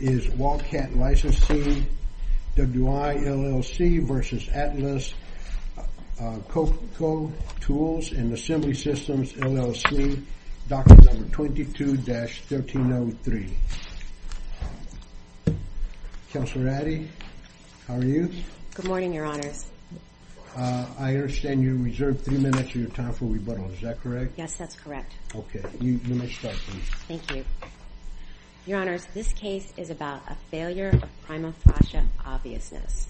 is Walcat Licensing WI LLC v. Atlas Copco Tools and Assembly Systems LLC, document number 22-1303. Counselor Addy, how are you? Good morning, your honors. I understand you reserved three minutes of your time for rebuttal, is that correct? Yes, that's correct. Okay, you may start, thank you. Your honors, this case is about a failure of prima facie obviousness.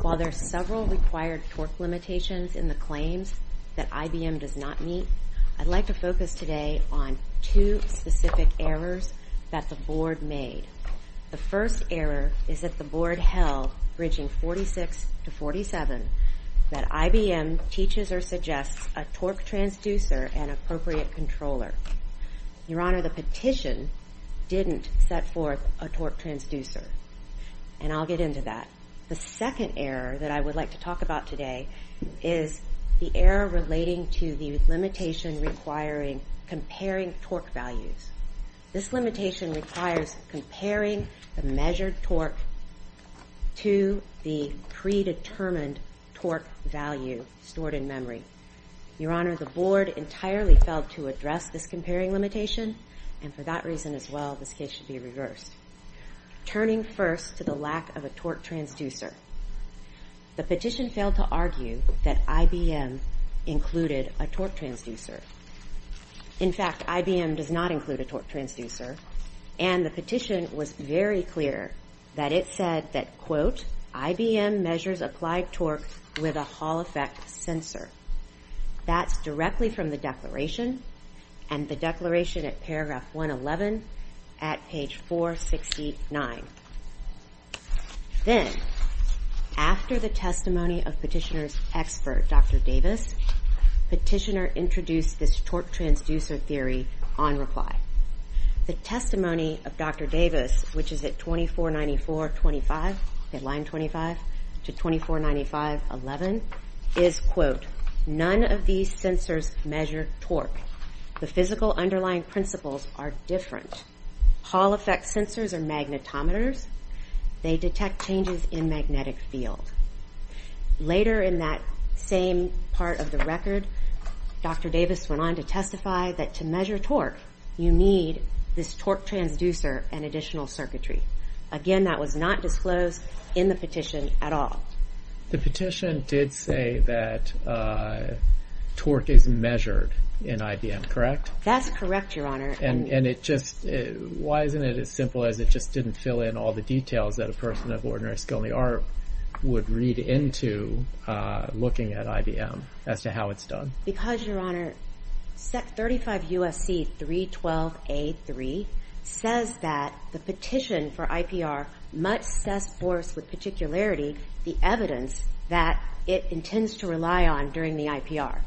While there are several required torque limitations in the claims that IBM does not meet, I'd like to focus today on two specific errors that the board made. The first error is that the board held, bridging 46 to 47, that IBM teaches or suggests a torque transducer and appropriate controller. Your honor, the petition didn't set forth a torque transducer, and I'll get into that. The second error that I would like to talk about today is the error relating to the limitation requiring comparing torque values. This limitation requires comparing the measured torque to the predetermined torque value stored in memory. Your honor, the board entirely failed to address this comparing limitation, and for that reason as well, this case should be reversed. Turning first to the lack of a torque transducer, the petition failed to argue that IBM included a torque transducer. In fact, IBM does not include a torque transducer, and the petition was very clear that it said that, quote, IBM measures applied torque with a control effect sensor. That's directly from the declaration, and the declaration at paragraph 111 at page 469. Then, after the testimony of petitioner's expert, Dr. Davis, petitioner introduced this torque transducer theory on reply. The testimony of Dr. Davis, which is at 2494.25, at line 25, to 2495.11, is, quote, none of these sensors measure torque. The physical underlying principles are different. Hall effect sensors are magnetometers. They detect changes in magnetic field. Later in that same part of the record, Dr. Davis went on to testify that to measure torque, you need this torque transducer and additional equipment at all. The petition did say that torque is measured in IBM, correct? That's correct, Your Honor. And it just... Why isn't it as simple as it just didn't fill in all the details that a person of ordinary skill and the art would read into looking at IBM as to how it's done? Because, Your Honor, 35 USC 312A3 says that the petition for IPR must set forth with particularity the evidence that it intends to rely on during the IPR.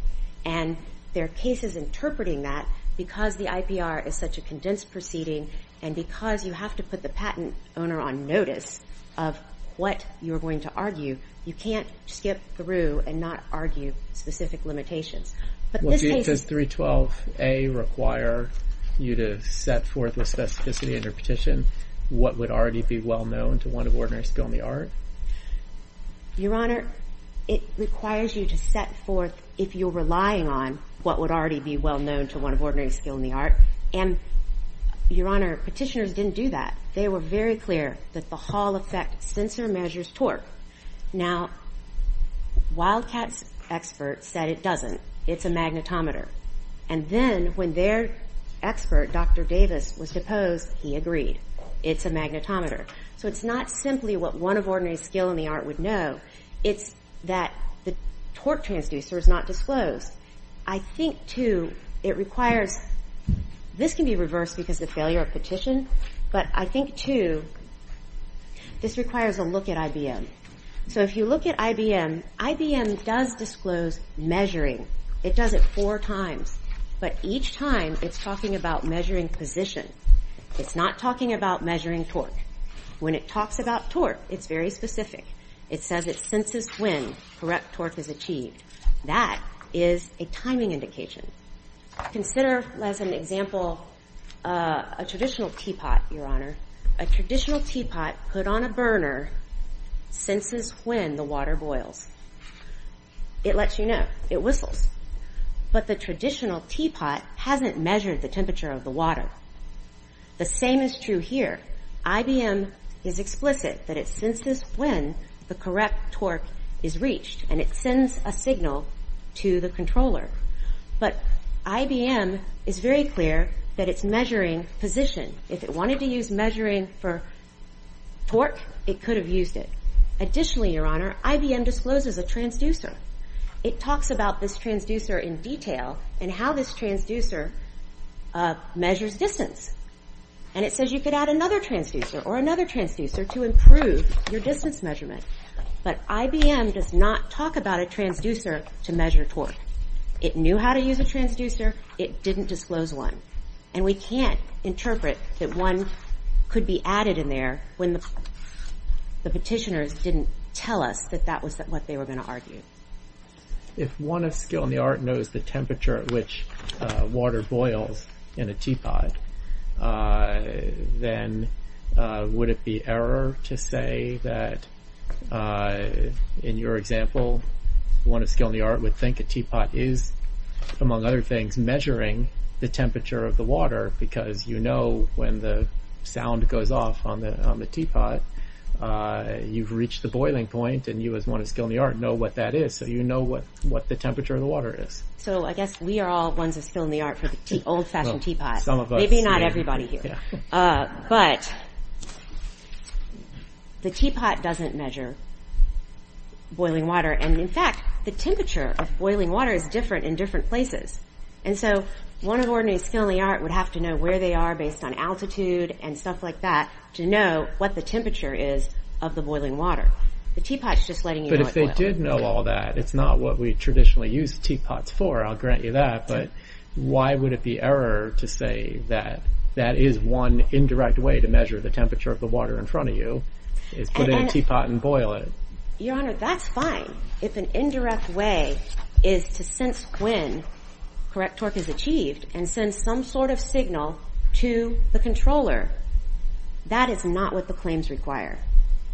And there are cases interpreting that because the IPR is such a condensed proceeding and because you have to put the patent owner on notice of what you're going to argue, you can't skip through and not argue specific limitations. But this case... Does 312A require you to set forth with specificity in your petition what would already be well known to one of ordinary skill and the art? Your Honor, it requires you to set forth if you're relying on what would already be well known to one of ordinary skill and the art. And, Your Honor, petitioners didn't do that. They were very clear that the Hall effect sensor measures torque. Now, Wildcat's expert said it doesn't. It's a magnetometer. And then when their expert, Dr. Davis, was deposed, he agreed. It's a magnetometer. So it's not simply what one of ordinary skill and the art would know. It's that the torque transducer is not disclosed. I think, too, it requires... This can be reversed because of failure of petition, but I think, too, this requires a look at IBM. So if you look at IBM, IBM does disclose measuring. It does it four times, but each time it's talking about measuring position. It's not talking about measuring torque. When it talks about torque, it's very specific. It says it senses when correct torque is achieved. That is a timing indication. Consider, as an example, a traditional teapot, Your Honor. A traditional teapot put on a burner senses when the water boils. It lets you know. It whistles. But the traditional teapot hasn't measured the temperature of the water. The same is true here. IBM is explicit that it senses when the correct torque is reached, and it sends a signal to the controller. But IBM is very clear that it's measuring position. If it wanted to use measuring for torque, it could have used it. Additionally, Your Honor, IBM discloses a transducer. It talks about this transducer in detail and how this transducer measures distance. And it says you could add another transducer or another transducer to improve your distance measurement. But IBM does not talk about a transducer to measure torque. It knew how to use a transducer. It didn't disclose one. And we can't interpret that one could be added in there when the petitioners didn't tell us that that was what they were gonna argue. If one of skill in the art knows the temperature at which water boils in a teapot, then would it be error to say that, in your example, one of skill in the art would think a teapot is, among other things, measuring the temperature of the water because you know when the sound goes off on the teapot, you've reached the boiling point and you as one of skill in the art know what that is. So you know what the temperature of the water is. So I guess we are all ones of skill in the art for the old fashioned teapot. Some of us. Maybe not everybody here. But the teapot doesn't measure boiling water. And in fact, the temperature of boiling water is different in different places. And so one of ordinary skill in the art would have to know where they are based on altitude and stuff like that to know what the temperature is of the boiling water. The teapot is just letting you know... But if they did know all that, it's not what we traditionally use teapots for, I'll grant you that, but why would it be error to say that that is one indirect way to measure the temperature of the water in front of you, is put in a teapot and boil it? Your honor, that's fine. If an indirect way is to sense when correct torque is achieved and send some sort of signal to the controller, that is not what the claims require.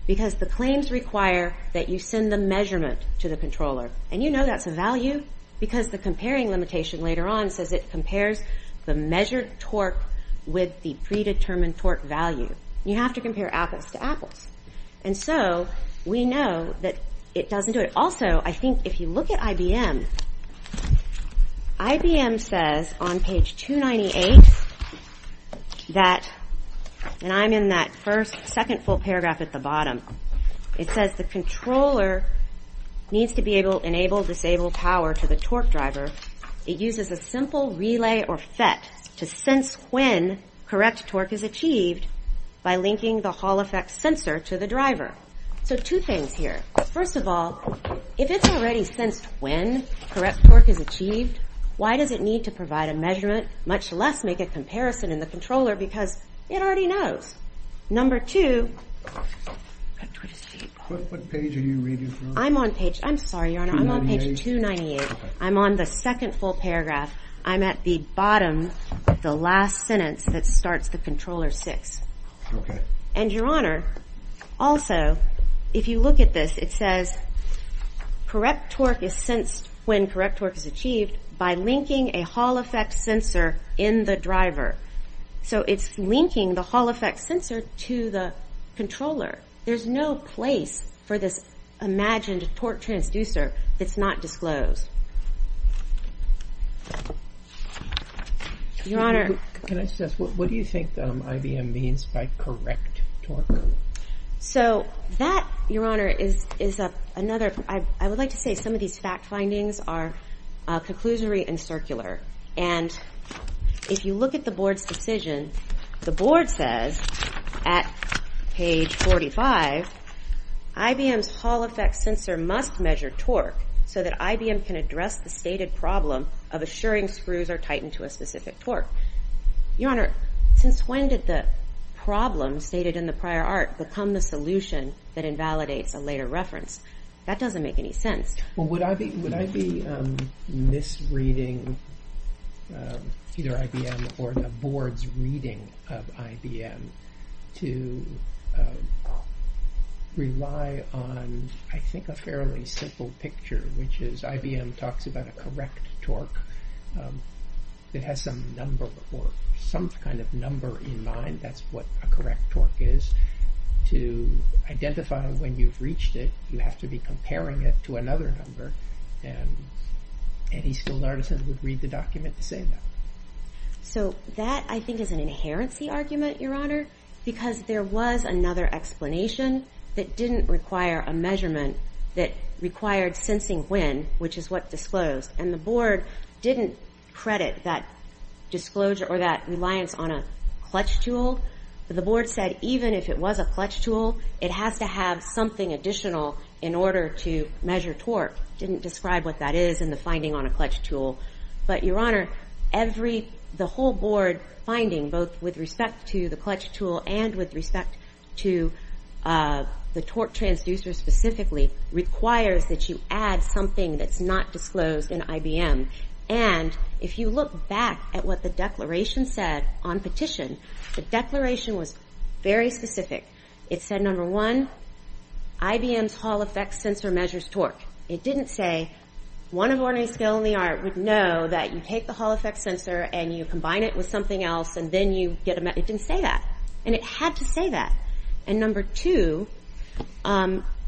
Because the claims require that you send the measurement to the controller. And you know that's a value because the comparing limitation later on says it compares the measured torque with the predetermined torque value. You have to compare apples to apples. And so we know that it doesn't do it. Also, I think if you look at IBM, IBM says on page 298 that... And I'm in that first, second full paragraph at the bottom. It says the controller needs to be able to enable, disable power to the torque driver. It uses a simple relay or FET to sense when correct torque is achieved by linking the Hall effect sensor to the driver. So two things here. First of all, if it's already sensed when correct torque is achieved, why does it need to provide a measurement, much less make a comparison in the controller because it already knows? Number two, what page are you reading from? I'm on page... I'm sorry, Your Honor, I'm on page 298. I'm on the second full paragraph. I'm at the bottom, the last sentence that starts the controller six. Okay. And Your Honor, also, if you look at this, it says correct torque is sensed when correct torque is achieved by linking a Hall effect sensor in the driver. So it's linking the Hall effect sensor to the controller. There's no place for this imagined torque transducer that's not disclosed. Your Honor... Can I suggest, what do you think IBM means by correct torque? So that, Your Honor, is another... I would like to say some of these fact findings are conclusory and circular. And if you look at the board's decision, the board says, at page 45, IBM's Hall effect sensor must measure torque so that IBM can address the stated problem of assuring screws are tightened to a specific torque. Your Honor, since when did the problem stated in the prior art become the solution that invalidates a later reference? That doesn't make any sense. Well, would I be misreading either IBM or the board's reading of IBM to rely on, I think, a fairly simple picture, which is IBM talks about a correct torque that has some number or some kind of number in mind, that's what a correct torque is, to identify when you've reached it, you have to be comparing it to another number. And any skilled artisan would read the document to say that. So that, I think, is an inherency argument, Your Honor, because there was another explanation that didn't require a measurement that required sensing when, which is what disclosed. And the board didn't credit that disclosure or that reliance on a clutch tool. The board said, even if it was a clutch tool, it has to have something additional in order to measure torque. Didn't describe what that is in the finding on a clutch tool. But Your Honor, the whole board finding, both with respect to the clutch tool and with respect to the torque transducer specifically, requires that you add something that's not disclosed in IBM. And if you look back at what the declaration said on petition, the declaration was very specific. It said, number one, IBM's Hall Effect Sensor measures torque. It didn't say one of ordinary skilled in the art would know that you take the Hall Effect Sensor and you combine it with something else and then you get a... It didn't say that. And it had to say that. And number two,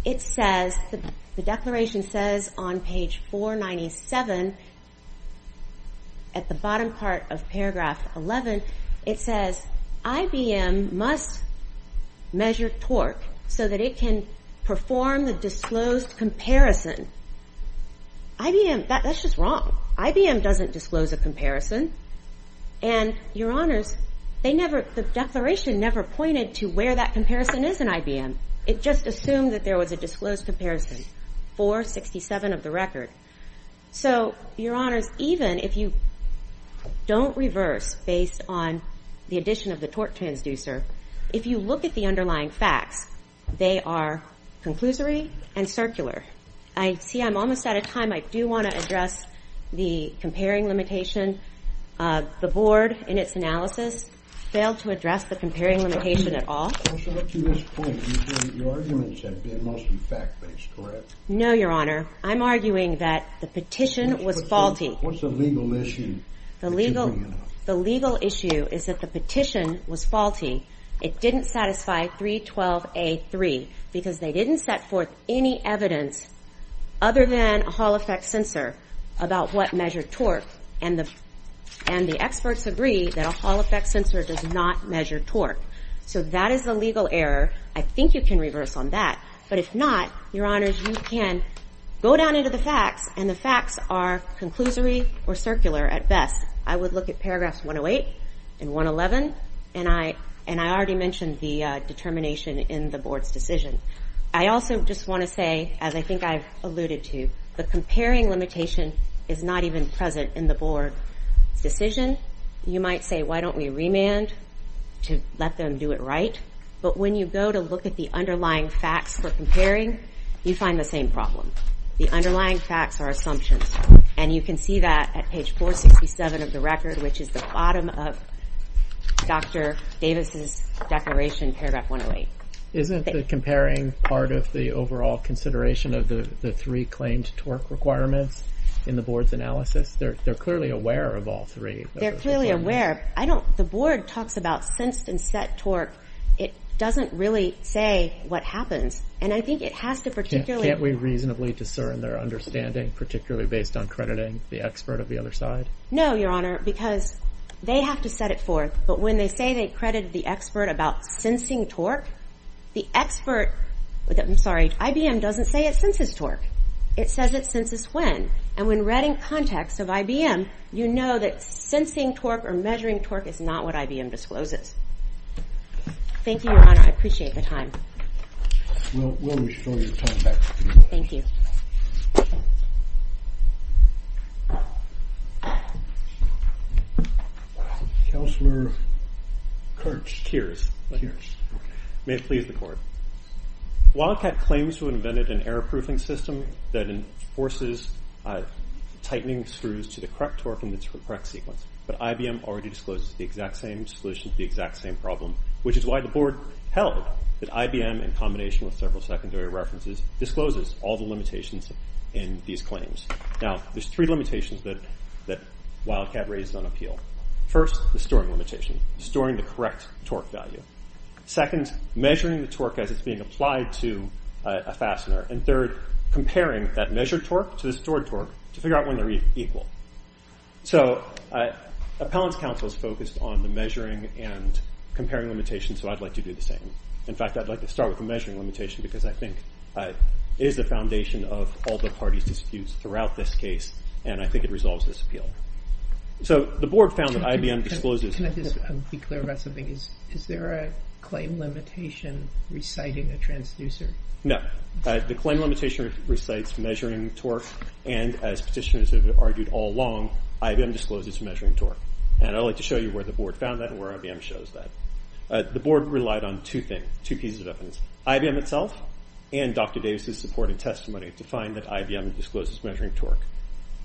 it says, the declaration says on page 497, at the bottom part of paragraph 11, it says, IBM must measure torque so that it can perform the disclosed comparison. IBM, that's just wrong. IBM doesn't disclose a comparison. And Your Honors, they never... The declaration never pointed to where that comparison is in IBM. It just assumed that there was a disclosed comparison, 467 of the record. So, Your Honors, even if you don't reverse based on the addition of the torque transducer, if you look at the underlying facts, they are conclusory and circular. I see I'm almost out of time. I do wanna address the comparing limitation. The board, in its analysis, failed to address the comparing limitation at all. Also, up to this point, you think your arguments have been mostly fact based, correct? No, Your Honor. I'm arguing that the petition was faulty. What's the legal issue that you're bringing up? The legal issue is that the petition was faulty. It didn't satisfy 312A3, because they didn't set forth any evidence, other than a Hall Effect Sensor, about what measured torque. And the experts agree that a Hall Effect Sensor does not measure torque. So, that is a legal error. I think you can reverse on that. But if not, Your Honors, you can go down into the facts, and the facts are conclusory or circular at best. I would look at paragraphs 108 and 111, and I already mentioned the determination in the board's decision. I also just wanna say, as I think I've alluded to, the comparing limitation is not even present in the board's decision. You might say, why don't we remand to let them do it right? But when you go to look at the underlying facts for comparing, you find the same problem. The underlying facts are assumptions, and you can see that at page 467 of the record, which is the bottom of Dr. Davis's declaration, paragraph 108. Isn't the comparing part of the overall consideration of the three claimed torque requirements in the board's decision? They're clearly aware of all three. They're clearly aware. The board talks about sensed and set torque. It doesn't really say what happens. And I think it has to particularly... Can't we reasonably discern their understanding, particularly based on crediting the expert of the other side? No, Your Honor, because they have to set it forth. But when they say they credited the expert about sensing torque, the expert... I'm sorry, IBM doesn't say it senses torque. It says it senses torque. So in that context of IBM, you know that sensing torque or measuring torque is not what IBM discloses. Thank you, Your Honor. I appreciate the time. We'll restore your time back to you. Thank you. Counselor Kirch. Kirch. May it please the court. Wildcat claims to have invented an error proofing system that enforces tightening screws to the correct torque in the correct sequence. But IBM already discloses the exact same solution to the exact same problem, which is why the board held that IBM, in combination with several secondary references, discloses all the limitations in these claims. Now, there's three limitations that Wildcat raised on appeal. First, the storing limitation, storing the correct torque value. Second, measuring the torque as it's being applied to a fastener. And third, comparing that measured torque to the stored torque to figure out when they're equal. So appellant's counsel is focused on the measuring and comparing limitations, so I'd like to do the same. In fact, I'd like to start with the measuring limitation, because I think it is the foundation of all the parties' disputes throughout this case, and I think it resolves this appeal. So the board found that IBM discloses... Can I just be clear about something? Is there a claim limitation reciting a transducer? No. The claim limitation recites measuring torque, and as petitioners have argued all along, IBM discloses measuring torque. And I'd like to show you where the board found that and where IBM shows that. The board relied on two things, two pieces of evidence, IBM itself and Dr. Davis's support and testimony, to find that IBM discloses measuring torque.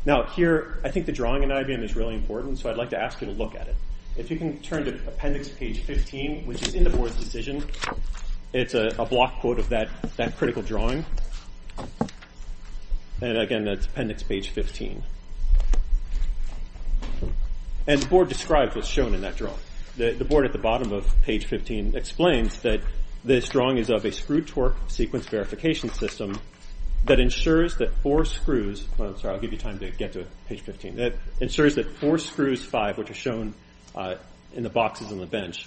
Now, here, I think the drawing in IBM is really important, so I'd like to ask you to look at page 15, which is in the board's decision. It's a block quote of that critical drawing. And again, that's appendix page 15. And the board described what's shown in that drawing. The board at the bottom of page 15 explains that this drawing is of a screw torque sequence verification system that ensures that four screws... I'm sorry, I'll give you time to get to page 15. That ensures that four screws, five, which are shown in the boxes on the bench,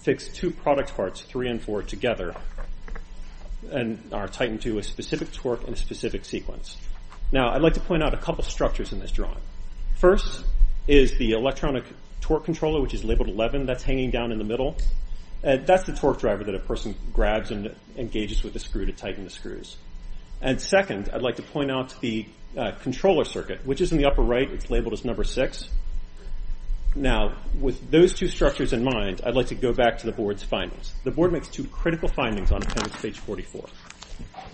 fix two product parts, three and four, together, and are tightened to a specific torque and a specific sequence. Now, I'd like to point out a couple of structures in this drawing. First is the electronic torque controller, which is labeled 11, that's hanging down in the middle. That's the torque driver that a person grabs and engages with the screw to tighten the screws. And second, I'd like to point out the controller circuit, which is in the upper right, it's labeled as 11. With those two structures in mind, I'd like to go back to the board's findings. The board makes two critical findings on appendix page 44.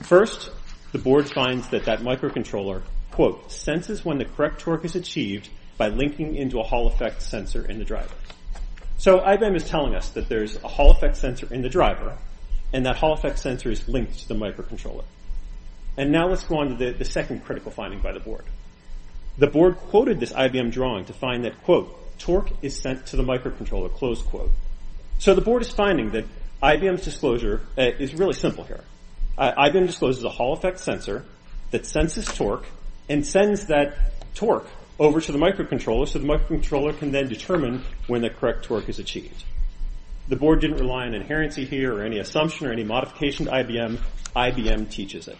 First, the board finds that that microcontroller, quote, senses when the correct torque is achieved by linking into a Hall effect sensor in the driver. So IBM is telling us that there's a Hall effect sensor in the driver, and that Hall effect sensor is linked to the microcontroller. And now let's go on to the second critical finding by the board. The board quoted this IBM drawing to find that, quote, torque is sent to the microcontroller, close quote. So the board is finding that IBM's disclosure is really simple here. IBM discloses a Hall effect sensor that senses torque and sends that torque over to the microcontroller so the microcontroller can then determine when the correct torque is achieved. The board didn't rely on inherency here or any assumption or any modification to IBM. IBM teaches it.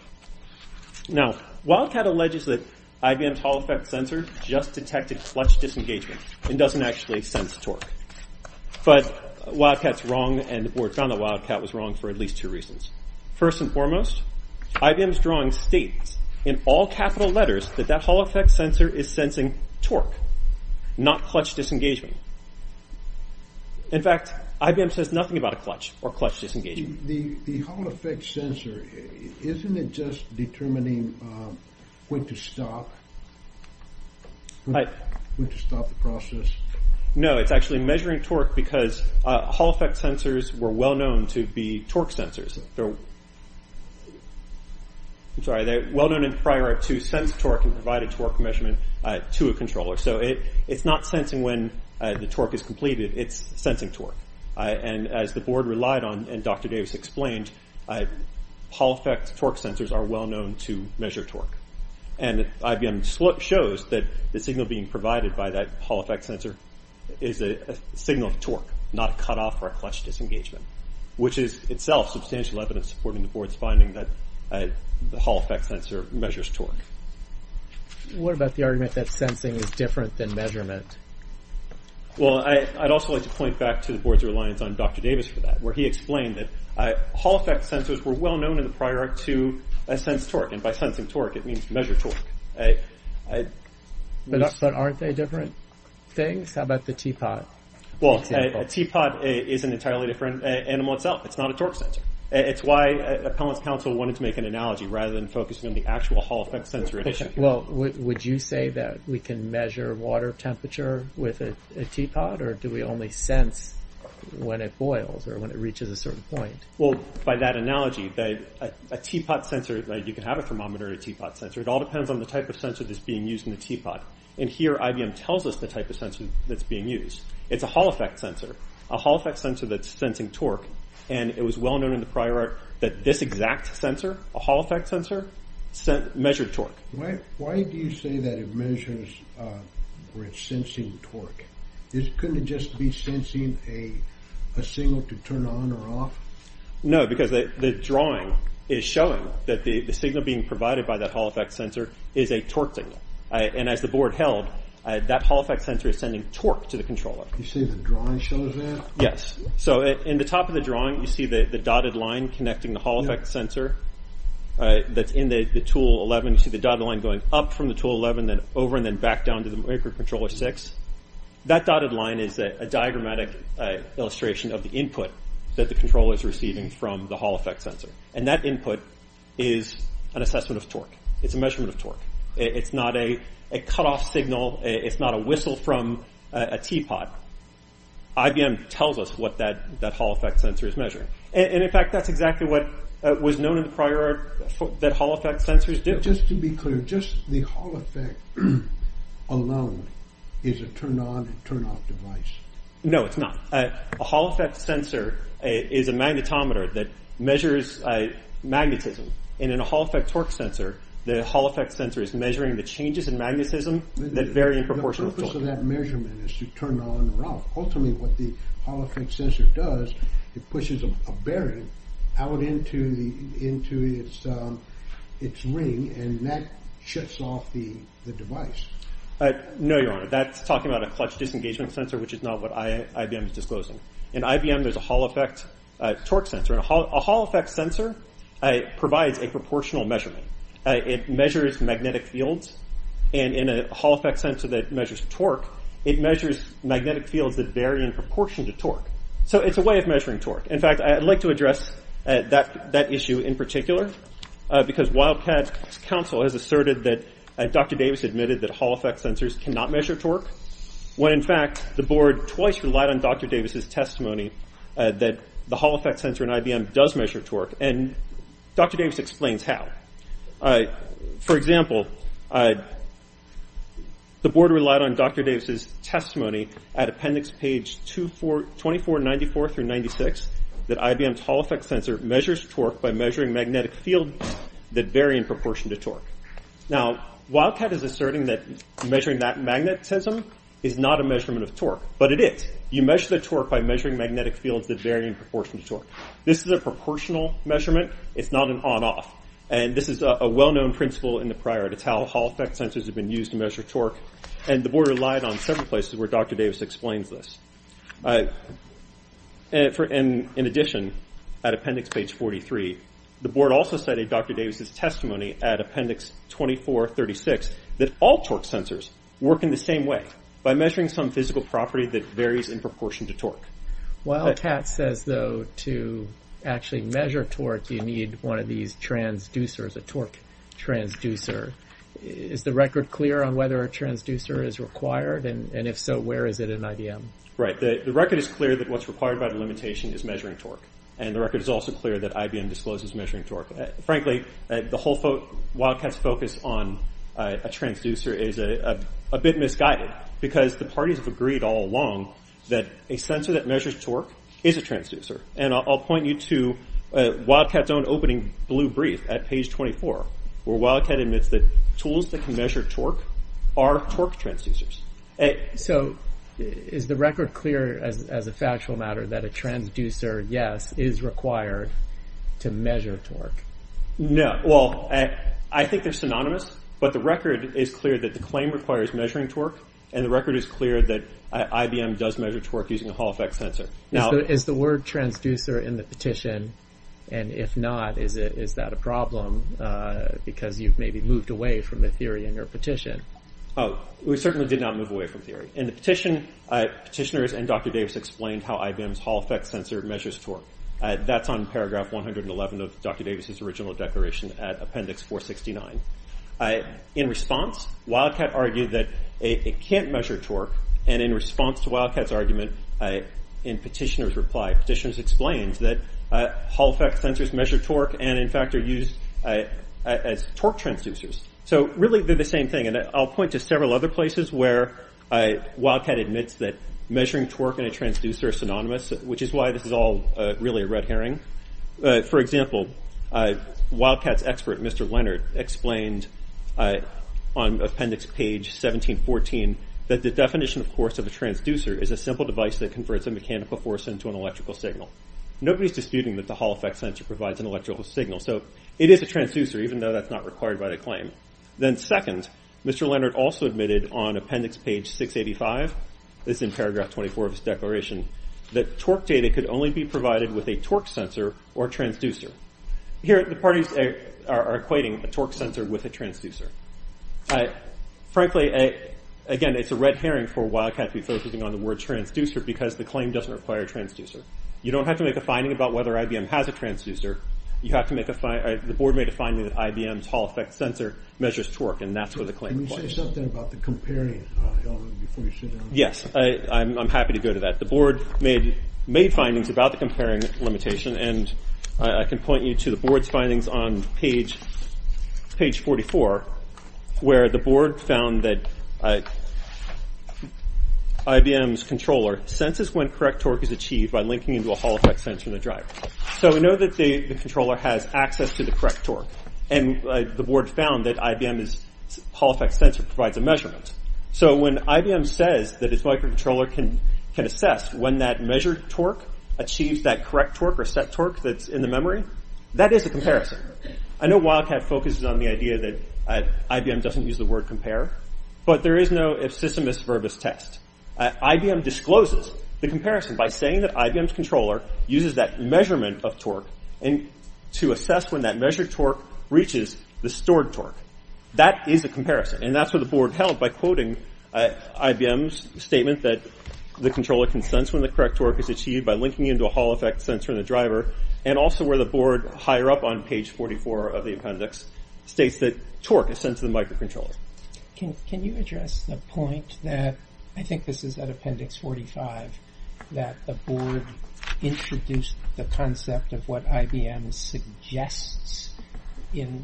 Now, Wildcat alleges that IBM's Hall effect sensor just detected clutch disengagement and doesn't actually sense torque. But Wildcat's wrong and the board found that Wildcat was wrong for at least two reasons. First and foremost, IBM's drawing states in all capital letters that that Hall effect sensor is sensing torque, not clutch disengagement. In fact, IBM says nothing about a clutch or a Hall effect sensor. Isn't it just determining when to stop? When to stop the process? No, it's actually measuring torque because Hall effect sensors were well known to be torque sensors. I'm sorry, they're well known in prior to sense torque and provide a torque measurement to a controller. So it's not sensing when the torque is completed, it's sensing torque. And as the board relied on and Dr. Davis said, Hall effect torque sensors are well known to measure torque. And IBM shows that the signal being provided by that Hall effect sensor is a signal of torque, not a cut off or a clutch disengagement, which is itself substantial evidence supporting the board's finding that the Hall effect sensor measures torque. What about the argument that sensing is different than measurement? Well, I'd also like to point back to the board's reliance on Dr. Davis for that, where he explained that Hall effect sensors were well known in the prior to sense torque. And by sensing torque, it means measure torque. But aren't they different things? How about the teapot? Well, a teapot is an entirely different animal itself. It's not a torque sensor. It's why Appellant's counsel wanted to make an analogy rather than focusing on the actual Hall effect sensor at issue. Well, would you say that we can measure water temperature with a teapot or do we only sense when it boils or when it reaches a certain point? Well, by that analogy, a teapot sensor, you can have a thermometer or a teapot sensor. It all depends on the type of sensor that's being used in the teapot. And here, IBM tells us the type of sensor that's being used. It's a Hall effect sensor, a Hall effect sensor that's sensing torque. And it was well known in the prior that this exact sensor, a Hall effect sensor, measured torque. Why do you say that it measures or it's sensing torque? Couldn't it just be sensing a signal to turn on or off? No, because the drawing is showing that the signal being provided by that Hall effect sensor is a torque signal. And as the board held, that Hall effect sensor is sending torque to the controller. You say the drawing shows that? Yes. So in the top of the drawing, you see the dotted line connecting the Hall effect sensor that's in the tool 11. You see the dotted line going up from the back down to the microcontroller 6. That dotted line is a diagrammatic illustration of the input that the controller is receiving from the Hall effect sensor. And that input is an assessment of torque. It's a measurement of torque. It's not a cut off signal. It's not a whistle from a teapot. IBM tells us what that Hall effect sensor is measuring. And in fact, that's exactly what was known in the prior that Hall effect alone is a turn on, turn off device. No, it's not. A Hall effect sensor is a magnetometer that measures magnetism. And in a Hall effect torque sensor, the Hall effect sensor is measuring the changes in magnetism that vary in proportion to the... The purpose of that measurement is to turn on or off. Ultimately, what the Hall effect sensor does, it pushes a bearing out into its ring and that shuts off the device. No, Your Honor, that's talking about a clutch disengagement sensor, which is not what IBM is disclosing. In IBM, there's a Hall effect torque sensor. A Hall effect sensor provides a proportional measurement. It measures magnetic fields. And in a Hall effect sensor that measures torque, it measures magnetic fields that vary in proportion to torque. So it's a way of measuring torque. In fact, I'd like to address that issue in particular, because Wildcat Council has asserted that Dr. Davis' Hall effect sensors cannot measure torque, when in fact, the board twice relied on Dr. Davis' testimony that the Hall effect sensor in IBM does measure torque, and Dr. Davis explains how. For example, the board relied on Dr. Davis' testimony at Appendix page 2494 through 96, that IBM's Hall effect sensor measures torque by measuring magnetic fields that vary in proportion to torque. Now, Wildcat is asserting that measuring that magnetism is not a measurement of torque, but it is. You measure the torque by measuring magnetic fields that vary in proportion to torque. This is a proportional measurement. It's not an on off. And this is a well known principle in the prior. It's how Hall effect sensors have been used to measure torque. And the board relied on several places where Dr. Davis explains this. And in addition, at Appendix page 43, the board also cited Dr. Davis' testimony at Appendix 2436, that all torque sensors work in the same way, by measuring some physical property that varies in proportion to torque. Wildcat says, though, to actually measure torque, you need one of these transducers, a torque transducer. Is the record clear on whether a transducer is required? And if so, where is it in IBM? Right. The record is clear that what's required by the limitation is measuring torque. And the record is also clear that IBM discloses measuring torque. Frankly, the whole... Wildcat's focus on a transducer is a bit misguided, because the parties have agreed all along that a sensor that measures torque is a transducer. And I'll point you to Wildcat's own opening blue brief at page 24, where Wildcat admits that tools that can measure torque are torque transducers. So is the record clear as a factual matter that a transducer, yes, is required to measure torque? No. Well, I think they're synonymous, but the record is clear that the claim requires measuring torque, and the record is clear that IBM does measure torque using a Hall effect sensor. Now... Is the word transducer in the petition? And if not, is that a problem? Because you've maybe moved away from the theory in your petition. Oh, we certainly did not move away from theory. In the petition, petitioners and Dr. Davis explained how IBM's Hall effect sensor measures torque. That's on paragraph 111 of Dr. Davis's original declaration at appendix 469. In response, Wildcat argued that it can't measure torque, and in response to Wildcat's argument, in petitioner's reply, petitioners explained that Hall effect sensors measure torque, and in fact are used as torque transducers. So really, they're the same thing. And I'll point to several other places where Wildcat admits that measuring torque in a transducer is synonymous, which is why this is all really a red herring. For example, Wildcat's expert, Mr. Leonard, explained on appendix page 1714, that the definition, of course, of a transducer is a simple device that converts a mechanical force into an electrical signal. Nobody's disputing that the Hall effect sensor provides an electrical signal, so it is a transducer, even though that's not required by the claim. Then second, Mr. Leonard also admitted on appendix page 685, this is in paragraph 24 of his declaration, that torque data could only be provided with a torque sensor or transducer. Here, the parties are equating a torque sensor with a transducer. Frankly, again, it's a red herring for Wildcat to be focusing on the word transducer, because the claim doesn't require a transducer. You don't have to make a finding about whether IBM has a transducer, you have to make a... The board made a finding that IBM's Hall effect sensor measures torque, and that's where the claim applies. Can you say something about the comparing, before you sit down? Yes, I'm happy to go to that. The board made findings about the comparing limitation, and I can point you to the board's findings on page 44, where the board found that IBM's controller senses when correct torque is achieved by linking into a Hall effect sensor in the driver. So we know that the controller has access to the correct torque, and the board found that IBM's Hall effect sensor provides a measurement. So when IBM says that its microcontroller can assess when that measured torque achieves that correct torque or set torque that's in the memory, that is a comparison. I know Wildcat focuses on the idea that IBM doesn't use the word compare, but there is no if system is verbose test. IBM discloses the comparison by saying that IBM's controller uses that measurement of torque, and to assess when that measured torque reaches the stored torque. That is a comparison, and that's what the board held by quoting IBM's statement that the controller can sense when the correct torque is achieved by linking into a Hall effect sensor in the driver, and also where the board, higher up on page 44 of the appendix, states that torque is sent to the microcontroller. Can you address the point that, I think this is at appendix 45, that the board introduced the concept of what IBM suggests in,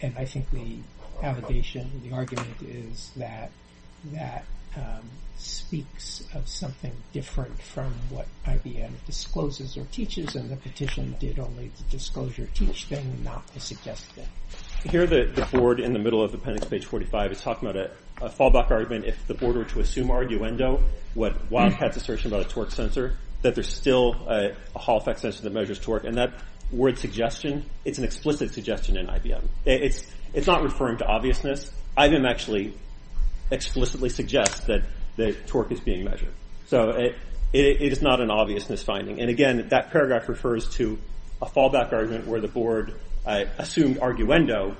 and I think the allegation, the argument is that that speaks of something different from what IBM discloses or teaches, and the petition did only to disclose your teach thing, not to suggest thing. Here the board, in the middle of appendix page 45, is talking about a fallback argument if the board were to assume our arguendo, what Wildcat's assertion about a torque sensor, that there's still a Hall effect sensor that measures torque, and that word suggestion, it's an explicit suggestion in IBM. It's not referring to obviousness. IBM actually explicitly suggests that the torque is being measured. So it is not an obviousness finding. And again, that paragraph refers to a fallback argument where the board assumed arguendo,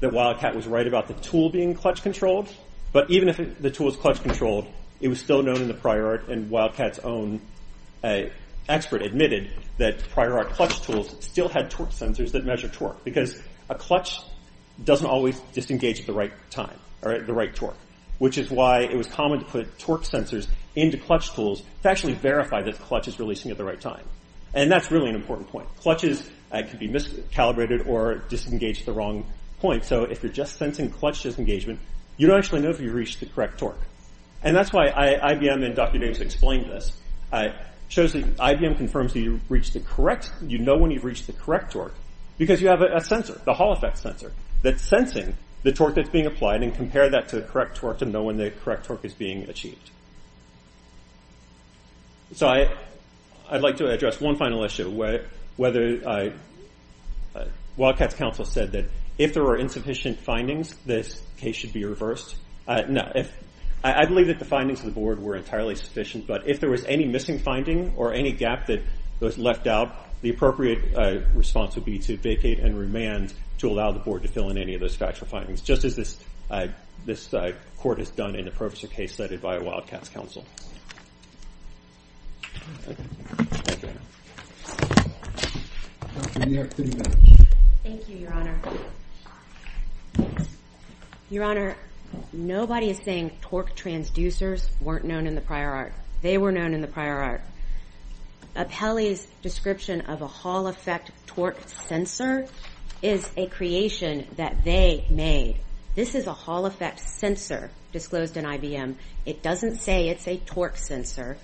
that Wildcat was right about the tool being clutch controlled, but even if the tool is clutch controlled, it was still known in the prior art, and Wildcat's own expert admitted that prior art clutch tools still had torque sensors that measure torque, because a clutch doesn't always disengage at the right time, or at the right torque, which is why it was common to put torque sensors into clutch tools to actually verify that the clutch is releasing at the right time. And that's really an important point. Clutches can be miscalibrated or disengage at the wrong point. So if you're just sensing clutch disengagement, you don't actually know if you've reached the correct torque. And that's why IBM and Dr. James explained this. IBM confirms that you've reached the correct, you know when you've reached the correct torque, because you have a sensor, the Hall Effect sensor, that's sensing the torque that's being applied and compare that to the correct torque to know when the correct torque is being achieved. So I'd like to address one final issue, whether... Wildcat's counsel said that if there were insufficient findings, this case should be reversed. Now, I believe that the findings of the board were entirely sufficient, but if there was any missing finding or any gap that was left out, the appropriate response would be to vacate and remand to allow the board to fill in any of those factual findings, just as this court has done in the Professor case cited by Wildcat's counsel. Thank you, Your Honor. Your Honor, nobody is saying torque transducers weren't known in the prior art. They were known in the prior art. Apelli's description of a Hall Effect torque sensor is a creation that they made. This is a Hall Effect sensor disclosed in IBM. It doesn't say it's a torque sensor.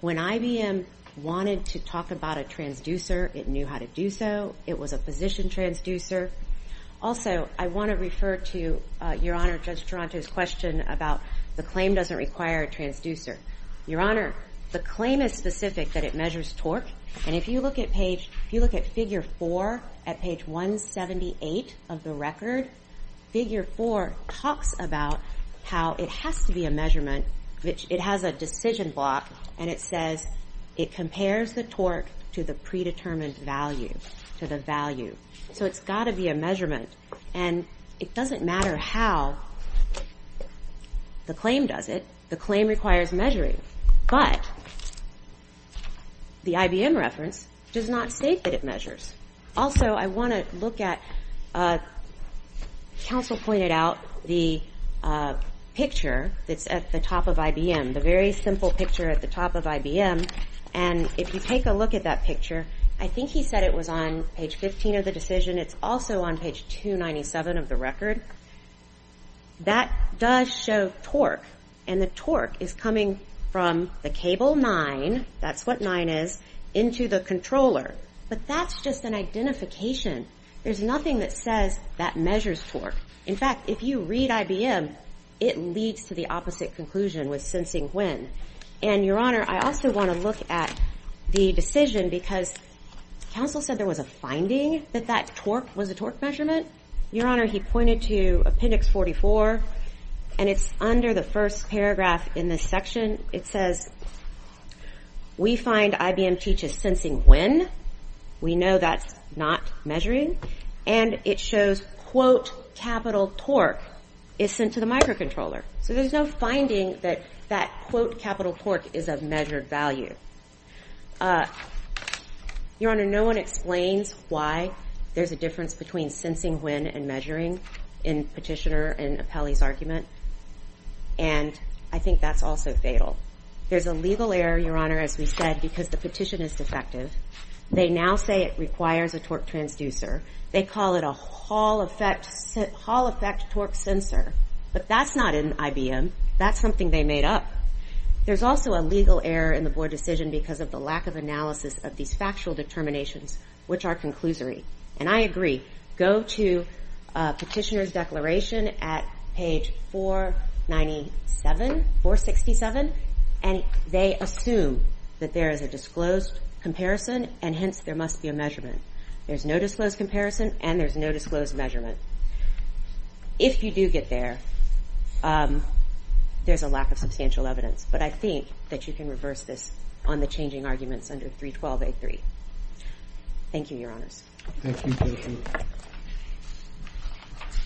When IBM wanted to talk about a transducer, it knew how to do so. It was a position transducer. Also, I wanna refer to Your Honor, Judge Taranto's question about the claim doesn't require a transducer. Your Honor, the claim is specific that it measures torque. And if you look at figure four at page 178 of the record, figure four talks about how it has to be a measurement, which it has a decision block, and it says it compares the torque to the predetermined value, to the value. So it's gotta be a measurement. And it doesn't matter how the claim does it, the claim requires measuring. But the IBM reference does not state that it measures. Also, I wanna look at... Counsel pointed out the picture that's at the top of IBM, the very simple picture at the top of IBM. And if you take a look at that picture, I think he said it was on page 15 of the decision, it's also on page 297 of the record. That does show torque, and the torque is coming from the cable nine, that's what nine is, into the controller. But that's just an identification. There's nothing that says that measures torque. In fact, if you read IBM, it leads to the opposite conclusion with sensing when. And Your Honor, I also wanna look at the decision because counsel said there was a finding that that torque was a torque measurement. Your Honor, he pointed to appendix 44, and it's under the first paragraph in this section. It says, we find IBM teaches sensing when, we know that's not measuring, and it shows, quote, capital torque is sent to the microcontroller. So there's no finding that that, quote, capital torque is a measured value. Your Honor, no one explains why there's a difference between sensing when and measuring in Petitioner and Apelli's argument, and I think that's also fatal. There's a legal error, Your Honor, as we said, because the petition is defective. They now say it requires a torque transducer. They call it a Hall Effect Torque Sensor, but that's not in IBM. That's something they made up. There's also a legal error in the board decision because of the lack of analysis of these factual determinations, which are conclusory. And I agree, go to Petitioner's declaration at page 497, 467, and they assume that there is a disclosed comparison, and hence, there must be a measurement. There's no disclosed comparison, and there's no disclosed measurement. If you do get there, there's a lack of substantial evidence, but I think that you can reverse on the changing arguments under 312A3. Thank you, Your Honors. Thank you, Judge.